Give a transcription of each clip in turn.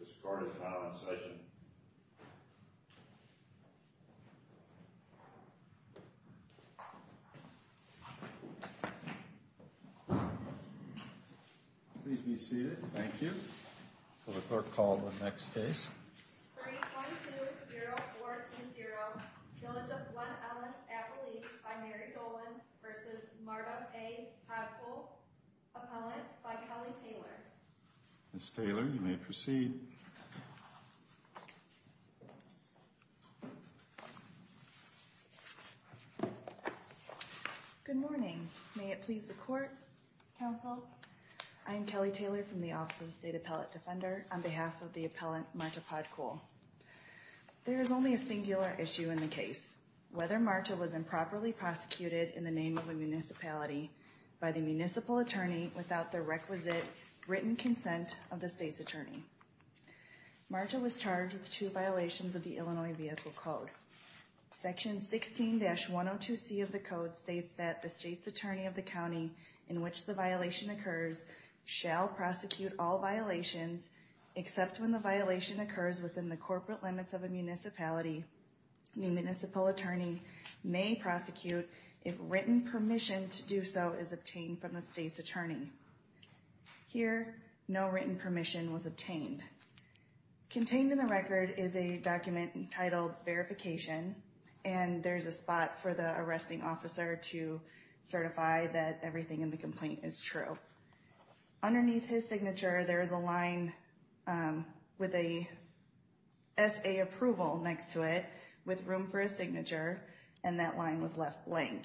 This card is now in session. Please be seated. Thank you. The clerk will call the next case. 322-0140 Village of Glen Ellyn, Appalachia v. Mary Dolan v. Marta A. Podkul, Appellant by Kelly Taylor Ms. Taylor, you may proceed. Good morning. May it please the Court, Counsel? I am Kelly Taylor from the Office of the State Appellate Defender on behalf of the Appellant Marta Podkul. There is only a singular issue in the case, whether Marta was improperly prosecuted in the name of a municipality by the municipal attorney without the requisite written consent of the state's attorney. Marta was charged with two violations of the Illinois Vehicle Code. Section 16-102C of the Code states that the state's attorney of the county in which the violation occurs shall prosecute all violations except when the violation occurs within the corporate limits of a municipality. The municipal attorney may prosecute if written permission to do so is obtained from the state's attorney. Here, no written permission was obtained. Contained in the record is a document entitled Verification, and there is a spot for the arresting officer to certify that everything in the complaint is true. Underneath his signature, there is a line with a S.A. approval next to it with room for a signature, and that line was left blank.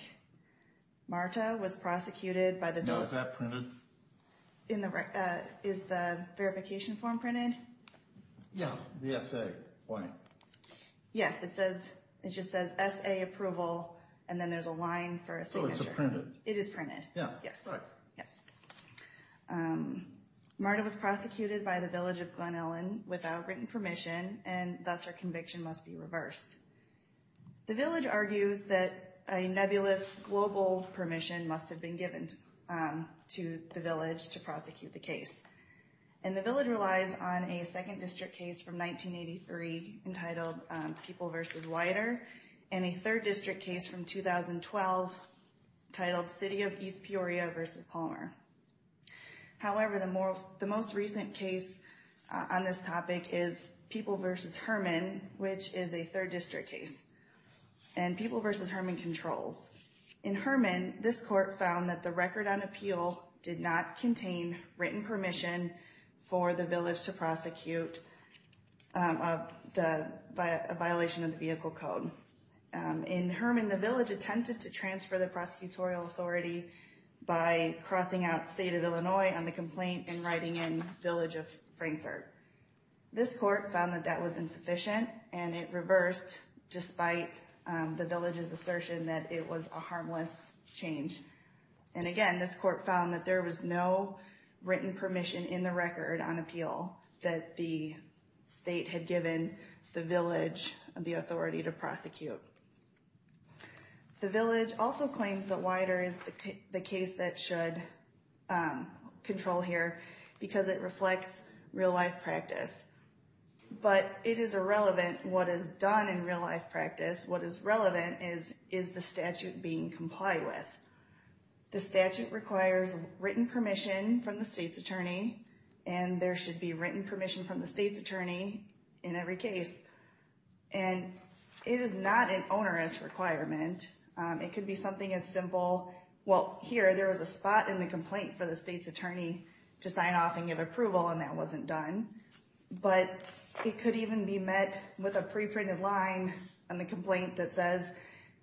Marta was prosecuted by the... No, is that printed? Is the verification form printed? Yeah, the S.A. line. Yes, it just says S.A. approval, and then there's a line for a signature. Oh, it's printed. It is printed, yes. Marta was prosecuted by the Village of Glen Ellyn without written permission, and thus her conviction must be reversed. The village argues that a nebulous global permission must have been given to the village to prosecute the case. And the village relies on a second district case from 1983 entitled People v. Weider, and a third district case from 2012 titled City of East Peoria v. Palmer. However, the most recent case on this topic is People v. Herman, which is a third district case, and People v. Herman controls. In Herman, this court found that the record on appeal did not contain written permission for the village to prosecute a violation of the vehicle code. In Herman, the village attempted to transfer the prosecutorial authority by crossing out State of Illinois on the complaint and writing in Village of Frankfort. This court found that that was insufficient, and it reversed despite the village's assertion that it was a harmless change. And again, this court found that there was no written permission in the record on appeal that the state had given the village the authority to prosecute. The village also claims that Weider is the case that should control here because it reflects real-life practice. But it is irrelevant what is done in real-life practice. What is relevant is, is the statute being complied with? The statute requires written permission from the state's attorney, and there should be written permission from the state's attorney in every case. And it is not an onerous requirement. It could be something as simple. Well, here there was a spot in the complaint for the state's attorney to sign off and give approval, and that wasn't done. But it could even be met with a pre-printed line on the complaint that says,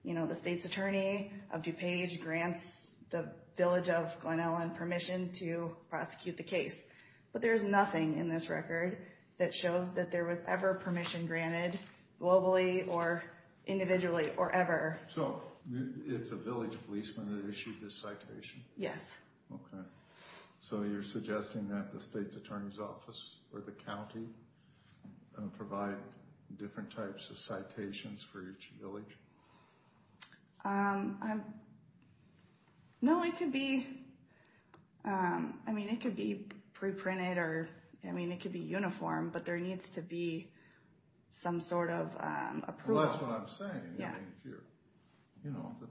you know, the state's attorney of DuPage grants the village of Glen Ellyn permission to prosecute the case. But there's nothing in this record that shows that there was ever permission granted globally or individually or ever. So it's a village policeman that issued this citation? Yes. Okay. So you're suggesting that the state's attorney's office or the county provide different types of citations for each village? No, it could be, I mean, it could be pre-printed or, I mean, it could be uniform, but there needs to be some sort of approval. That's what I'm saying. Yeah. You know, the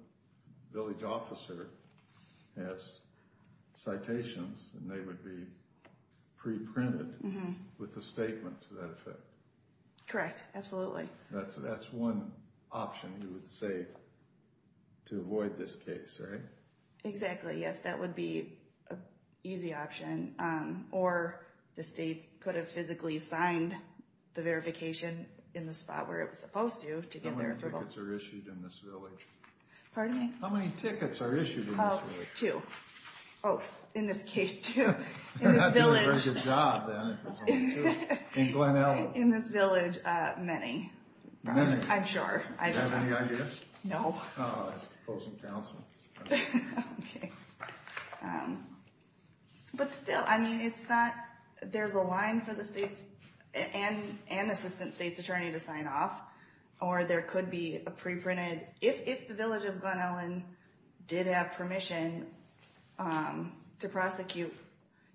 village officer has citations, and they would be pre-printed with a statement to that effect. Correct, absolutely. That's one option you would say to avoid this case, right? Exactly, yes, that would be an easy option. Or the state could have physically signed the verification in the spot where it was supposed to, to get their approval. How many tickets are issued in this village? Pardon me? How many tickets are issued in this village? Oh, two. Oh, in this case, two. They're not doing a very good job, then, if there's only two. In Glen Ellyn? In this village, many. Many? I'm sure. Do you have any ideas? No. Oh, that's opposing counsel. Okay. But still, I mean, it's not, there's a line for the state and assistant state's attorney to sign off, or there could be a pre-printed. If the village of Glen Ellyn did have permission to prosecute,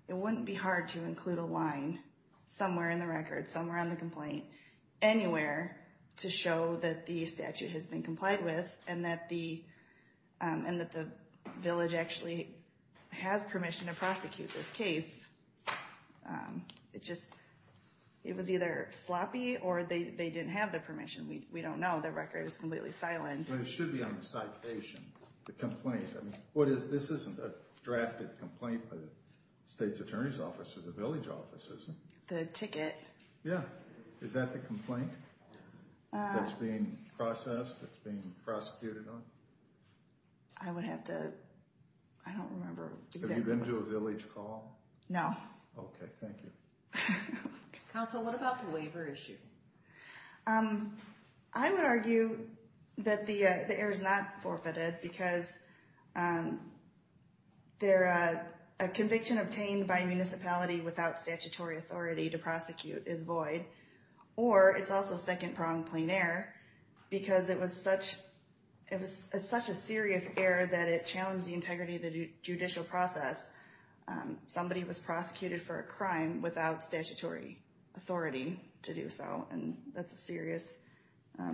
it wouldn't be hard to include a line somewhere in the record, somewhere on the complaint, anywhere, to show that the statute has been complied with, and that the village actually has permission to prosecute this case. It just, it was either sloppy, or they didn't have the permission. We don't know. The record is completely silent. But it should be on the citation, the complaint. This isn't a drafted complaint by the state's attorney's office or the village office, is it? The ticket. Yeah. Is that the complaint that's being processed, that's being prosecuted on? I would have to, I don't remember exactly. Have you been to a village call? No. Okay. Thank you. Counsel, what about the labor issue? I would argue that the error is not forfeited, because a conviction obtained by a municipality without statutory authority to prosecute is void, or it's also second-pronged plain error, because it was such a serious error that it challenged the integrity of the judicial process. Somebody was prosecuted for a crime without statutory authority to do so, and that's a serious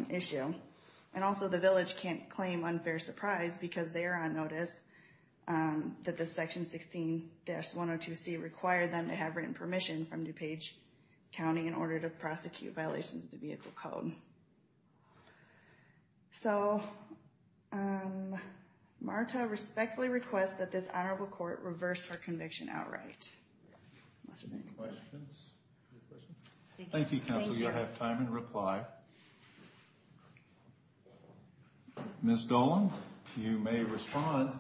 issue. And also, the village can't claim unfair surprise, because they are on notice that the Section 16-102C required them to have written permission from DuPage County in order to prosecute violations of the Vehicle Code. So, Marta respectfully requests that this Honorable Court reverse her conviction outright. Unless there's any questions. Thank you, Counsel. You'll have time in reply. Ms. Dolan, you may respond.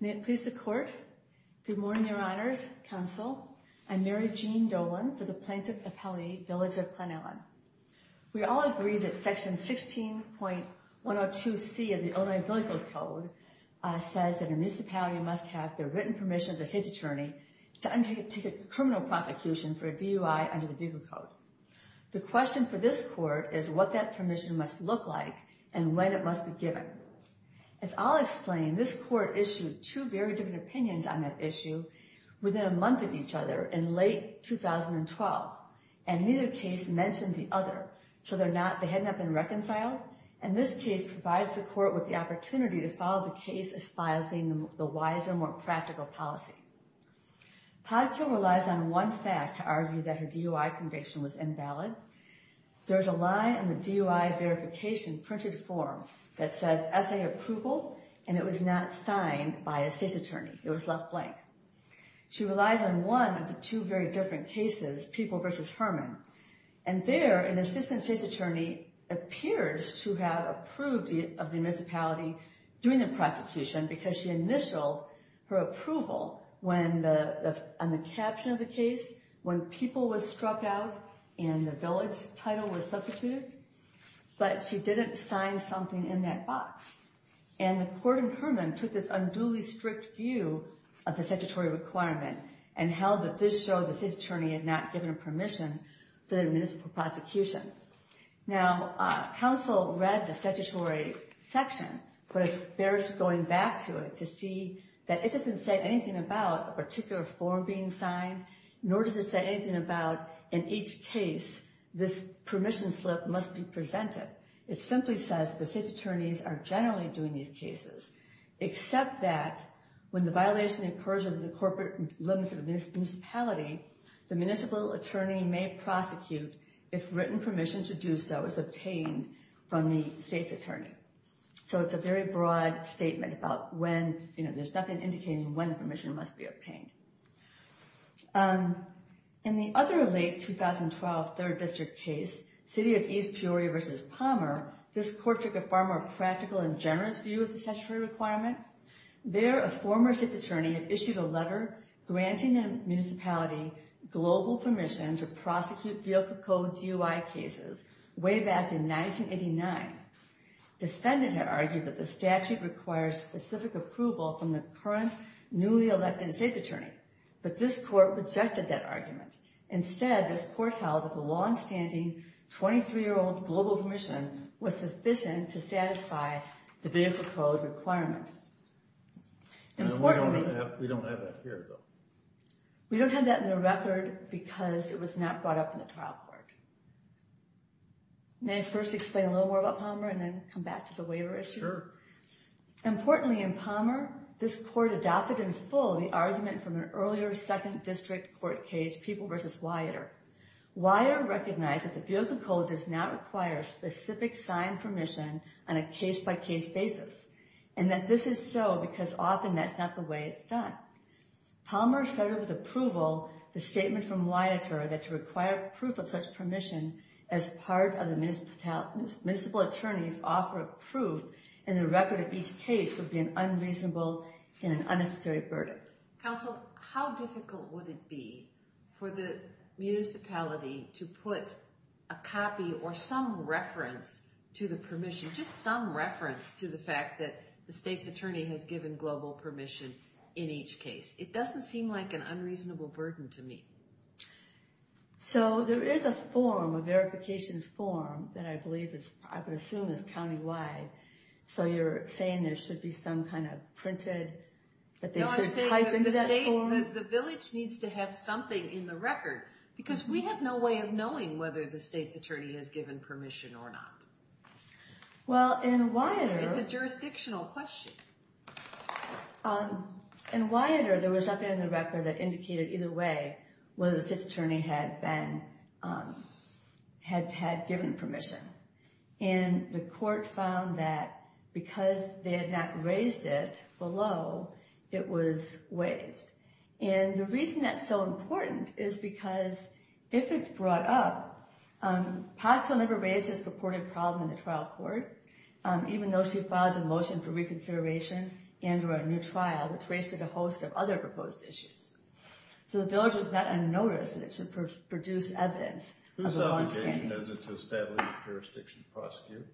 May it please the Court. Good morning, Your Honors, Counsel. I'm Mary Jean Dolan for the Plaintiff Appellate Village of Glen Ellyn. We all agree that Section 16.102C of the Illinois Vehicle Code says that a municipality must have their written permission of the state's attorney to undertake a criminal prosecution for a DUI under the Vehicle Code. The question for this Court is what that permission must look like and when it must be given. As I'll explain, this Court issued two very different opinions on that issue within a month of each other, in late 2012. And neither case mentioned the other, so they had not been reconciled. And this case provides the Court with the opportunity to follow the case espousing the wiser, more practical policy. Podkill relies on one fact to argue that her DUI conviction was invalid. There's a line in the DUI verification printed form that says SA Approval, and it was not signed by a state's attorney. It was left blank. She relies on one of the two very different cases, People v. Herman. And there, an assistant state's attorney appears to have approved of the municipality doing the prosecution because she initialed her approval on the caption of the case when People was struck out and the Village title was substituted. But she didn't sign something in that box. And the Court in Herman took this unduly strict view of the statutory requirement and held that this shows the state's attorney had not given permission for the municipal prosecution. Now, counsel read the statutory section, but it's fair going back to it to see that it doesn't say anything about a particular form being signed, nor does it say anything about in each case this permission slip must be presented. It simply says the state's attorneys are generally doing these cases, except that when the violation occurs within the corporate limits of a municipality, the municipal attorney may prosecute if written permission to do so is obtained from the state's attorney. So it's a very broad statement about when, you know, there's nothing indicating when permission must be obtained. In the other late 2012 Third District case, City of East Peoria v. Palmer, this Court took a far more practical and generous view of the statutory requirement. There, a former state's attorney had issued a letter granting the municipality global permission to prosecute vehicle code DUI cases way back in 1989. Defendant had argued that the statute requires specific approval from the current newly elected state's attorney. But this Court rejected that argument. Instead, this Court held that the longstanding 23-year-old global permission was sufficient to satisfy the vehicle code requirement. And importantly... We don't have that here, though. We don't have that in the record because it was not brought up in the trial court. May I first explain a little more about Palmer and then come back to the waiver issue? Sure. Importantly, in Palmer, this Court adopted in full the argument from an earlier Second District court case, Peoples v. Weider. Weider recognized that the vehicle code does not require specific signed permission on a case-by-case basis. And that this is so because often that's not the way it's done. Palmer started with approval the statement from Weider that to require proof of such permission as part of the municipal attorney's offer of proof in the record of each case would be an unreasonable and an unnecessary verdict. Counsel, how difficult would it be for the municipality to put a copy or some reference to the permission, just some reference to the fact that the state's attorney has given global permission in each case? It doesn't seem like an unreasonable burden to me. So there is a form, a verification form, that I believe, I would assume, is countywide. So you're saying there should be some kind of printed, that they should type in that form? No, I'm saying that the state, the village needs to have something in the record. Because we have no way of knowing whether the state's attorney has given permission or not. Well, in Weider... It's a jurisdictional question. In Weider, there was nothing in the record that indicated either way whether the state's attorney had been, had given permission. And the court found that because they had not raised it below, it was waived. And the reason that's so important is because, if it's brought up, Podkill never raised this purported problem in the trial court, even though she filed a motion for reconsideration and for a new trial, which raised a host of other proposed issues. So the village was not unnoticed, and it should produce evidence of a longstanding... As it's established jurisdiction to prosecute.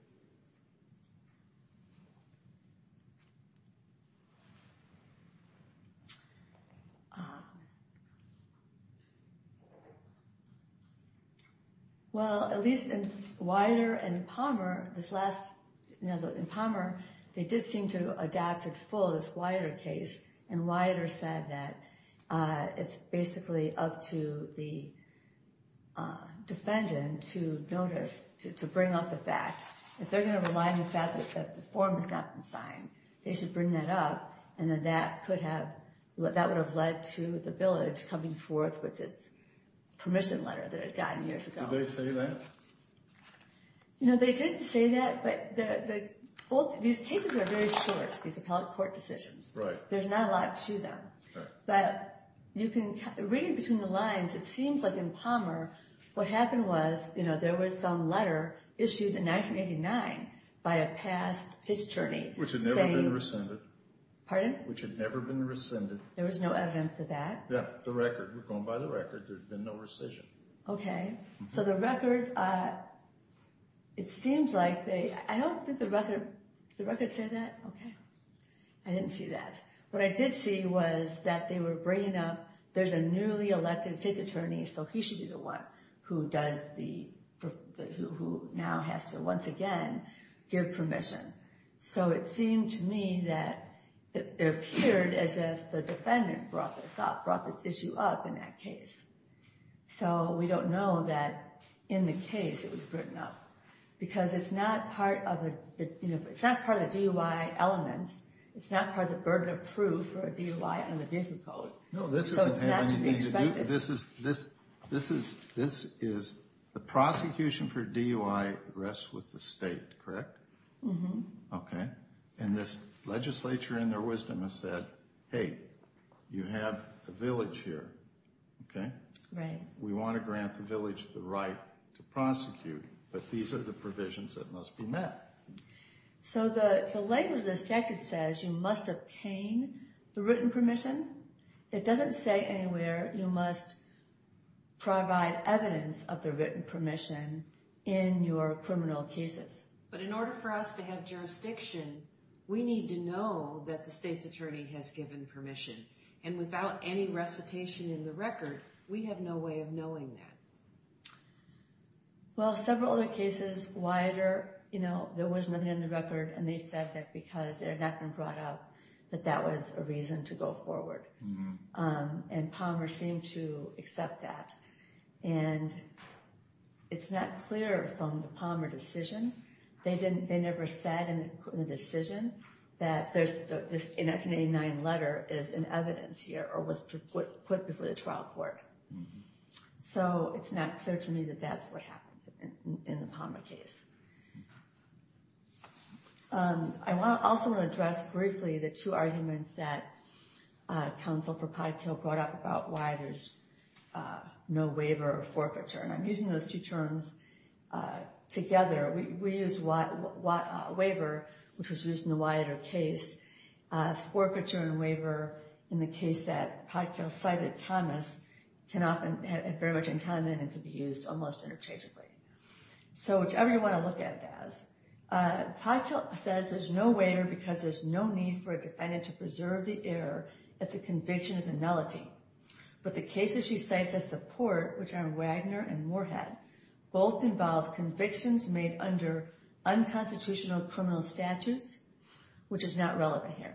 Well, at least in Weider and Palmer, this last... In Palmer, they did seem to adapt it for this Weider case. And Weider said that it's basically up to the defendant to notice, to bring up the fact. If they're going to rely on the fact that the form has gotten signed, they should bring that up. And then that could have... That would have led to the village coming forth with its permission letter that it had gotten years ago. Did they say that? No, they didn't say that. But these cases are very short, these appellate court decisions. There's not a lot to them. But reading between the lines, it seems like in Palmer, what happened was, there was some letter issued in 1989 by a past state attorney saying... Which had never been rescinded. Pardon? Which had never been rescinded. There was no evidence of that? Yeah, the record. We're going by the record. There's been no rescission. Okay. So the record, it seems like they... I don't think the record... Did the record say that? Okay. I didn't see that. What I did see was that they were bringing up... There's a newly elected state attorney, so he should be the one who now has to once again give permission. So it seemed to me that it appeared as if the defendant brought this issue up in that case. So we don't know that in the case it was written up. Because it's not part of the DUI elements. It's not part of the burden of proof for a DUI on the digital code. No, this is... So it's not to be expected. This is... The prosecution for DUI rests with the state, correct? Mm-hmm. Okay. And this legislature, in their wisdom, has said, hey, you have a village here, okay? Right. We want to grant the village the right to prosecute. But these are the provisions that must be met. So the label of the statute says you must obtain the written permission. It doesn't say anywhere you must provide evidence of the written permission in your criminal cases. But in order for us to have jurisdiction, we need to know that the state's attorney has given permission. And without any recitation in the record, we have no way of knowing that. Well, several other cases, wider, you know, there was nothing in the record. And they said that because they had not been brought up, that that was a reason to go forward. And Palmer seemed to accept that. And it's not clear from the Palmer decision. They never said in the decision that this 189 letter is in evidence here or was put before the trial court. So it's not clear to me that that's what happened in the Palmer case. I also want to address briefly the two arguments that counsel for Podkill brought up about why there's no waiver or forfeiture. And I'm using those two terms together. We use waiver, which was used in the Wiater case. Forfeiture and waiver, in the case that Podkill cited, Thomas, can often have very much in common and can be used almost interchangeably. So whichever you want to look at it as. Podkill says there's no waiver because there's no need for a defendant to preserve the error if the conviction is a nullity. But the cases she cites as support, which are Wagner and Moorhead, both involve convictions made under unconstitutional criminal statutes, which is not relevant here.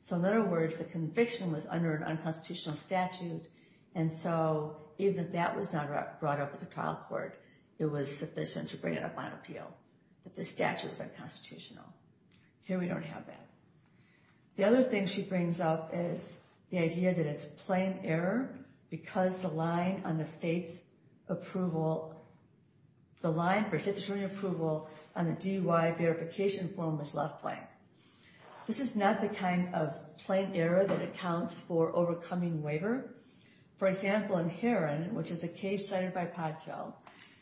So in other words, the conviction was under an unconstitutional statute. And so even if that was not brought up at the trial court, it was sufficient to bring it up on appeal that the statute was unconstitutional. Here we don't have that. The other thing she brings up is the idea that it's plain error because the line on the state's approval, the line for statutory approval on the DUI verification form was left blank. This is not the kind of plain error that accounts for overcoming waiver. For example, in Heron, which is a case cited by Podkill,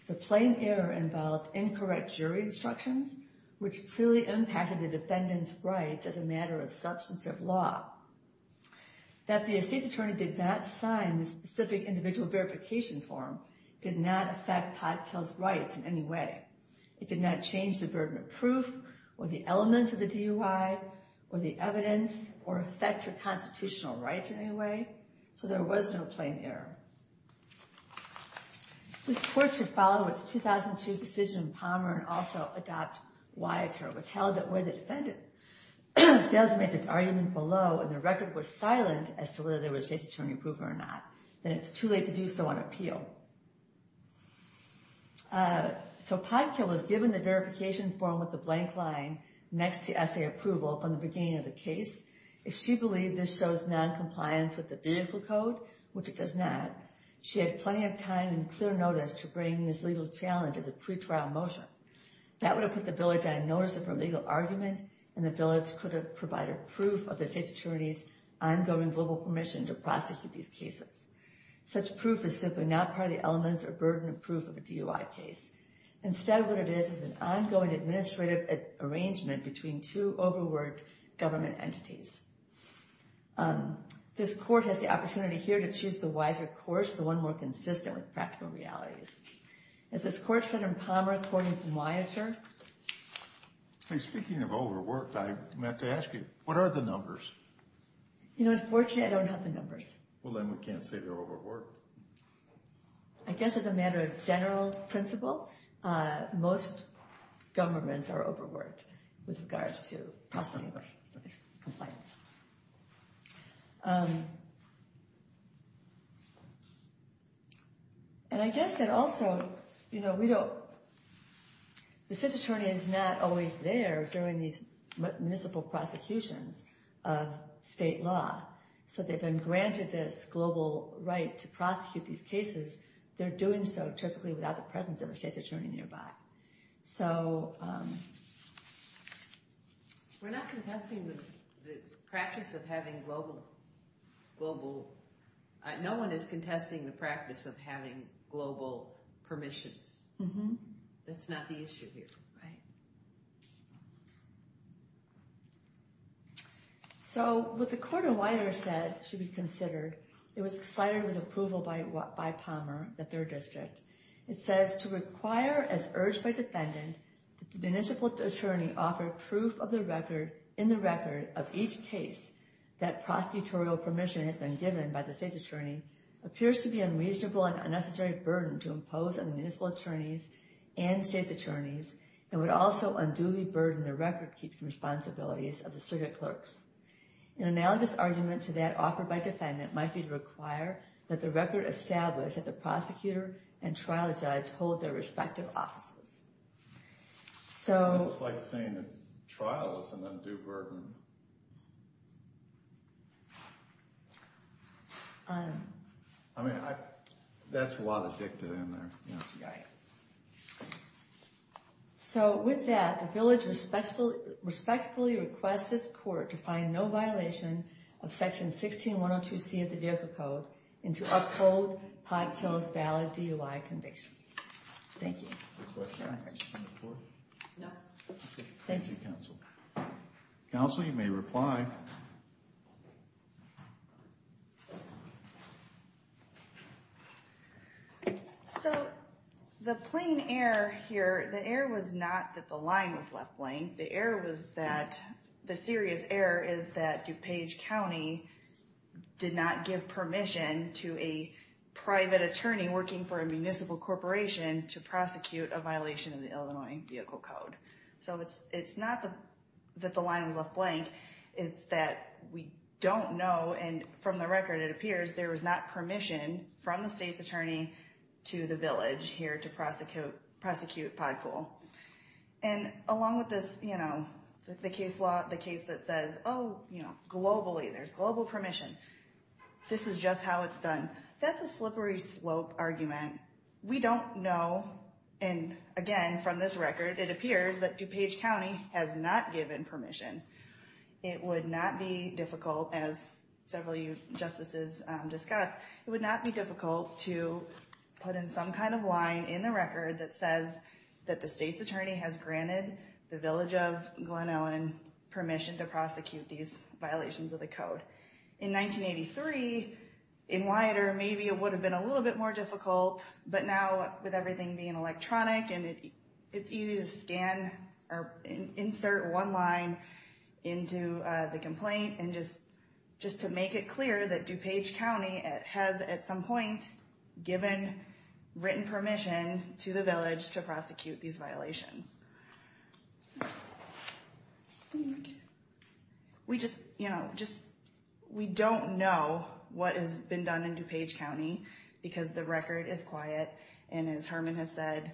the plain error involved incorrect jury instructions, which clearly impacted the defendant's rights as a matter of substance of law. That the state's attorney did not sign the specific individual verification form did not affect Podkill's rights in any way. It did not change the burden of proof or the elements of the DUI or the evidence or affect her constitutional rights in any way. So there was no plain error. This court should follow its 2002 decision in Palmer and also adopt Wiater, which held that whether the defendant failed to make this argument below and the record was silent as to whether there was statutory approval or not, then it's too late to do so on appeal. So Podkill was given the verification form with the blank line next to essay approval from the beginning of the case. If she believed this shows noncompliance with the vehicle code, which it does not, she had plenty of time and clear notice to bring this legal challenge as a pretrial motion. That would have put the village on notice of her legal argument and the village could have provided proof of the state's attorney's ongoing global permission to prosecute these cases. Such proof is simply not part of the elements or burden of proof of a DUI case. Instead, what it is is an ongoing administrative arrangement between two overworked government entities. This court has the opportunity here to choose the wiser course, the one more consistent with practical realities. As this court said in Palmer, according to Wiater. Speaking of overworked, I meant to ask you, what are the numbers? Well, then we can't say they're overworked. I guess as a matter of general principle, most governments are overworked with regards to prosecuting compliance. And I guess that also, you know, the state's attorney is not always there during these municipal prosecutions of state law. So they've been granted this global right to prosecute these cases. They're doing so typically without the presence of a state's attorney nearby. So we're not contesting the practice of having global global. No one is contesting the practice of having global permissions. Mm hmm. That's not the issue here. Right. So what the court of Wiater said should be considered. It was cited with approval by Palmer, the third district. It says to require as urged by defendant. The municipal attorney offered proof of the record in the record of each case that prosecutorial permission has been given by the state's attorney. Appears to be unreasonable and unnecessary burden to impose on the municipal attorneys and state's attorneys. And would also unduly burden the record keeping responsibilities of the circuit clerks. An analogous argument to that offered by defendant might be to require that the record established that the prosecutor and trial judge hold their respective offices. So it's like saying that trial is an undue burden. I mean, that's a lot of dicta in there. Yeah. So with that, the village respectfully requests this court to find no violation of section 16. Why don't you see the vehicle code and to uphold pot kills valid DUI conviction? Thank you. No. Thank you, counsel. Counsel, you may reply. So the plane air here, the air was not that the line was left blank. The air was that the serious error is that DuPage County did not give permission to a private attorney working for a municipal corporation to prosecute a violation of the Illinois vehicle code. So it's it's not that the line was left blank. It's that we don't know. And from the record, it appears there was not permission from the state's attorney to the village here to prosecute, prosecute pod pool. And along with this, you know, the case law, the case that says, oh, you know, globally, there's global permission. This is just how it's done. That's a slippery slope argument. We don't know. And again, from this record, it appears that DuPage County has not given permission. It would not be difficult, as several justices discussed. It would not be difficult to put in some kind of line in the record that says that the state's attorney has granted the village of Glen Ellyn permission to prosecute these violations of the code. In 1983 in wider, maybe it would have been a little bit more difficult. But now, with everything being electronic and it's easy to scan or insert one line into the complaint. And just just to make it clear that DuPage County has at some point given written permission to the village to prosecute these violations. We just, you know, just we don't know what has been done in DuPage County because the record is quiet. And as Herman has said,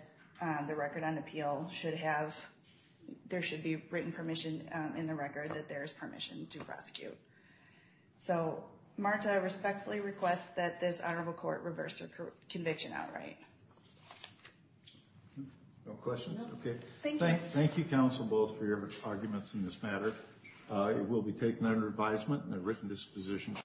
the record on appeal should have there should be written permission in the record that there is permission to prosecute. So Marta respectfully requests that this honorable court reverse conviction outright. No questions. OK, thank you. Thank you, counsel, both for your arguments in this matter. It will be taken under advisement and a written disposition.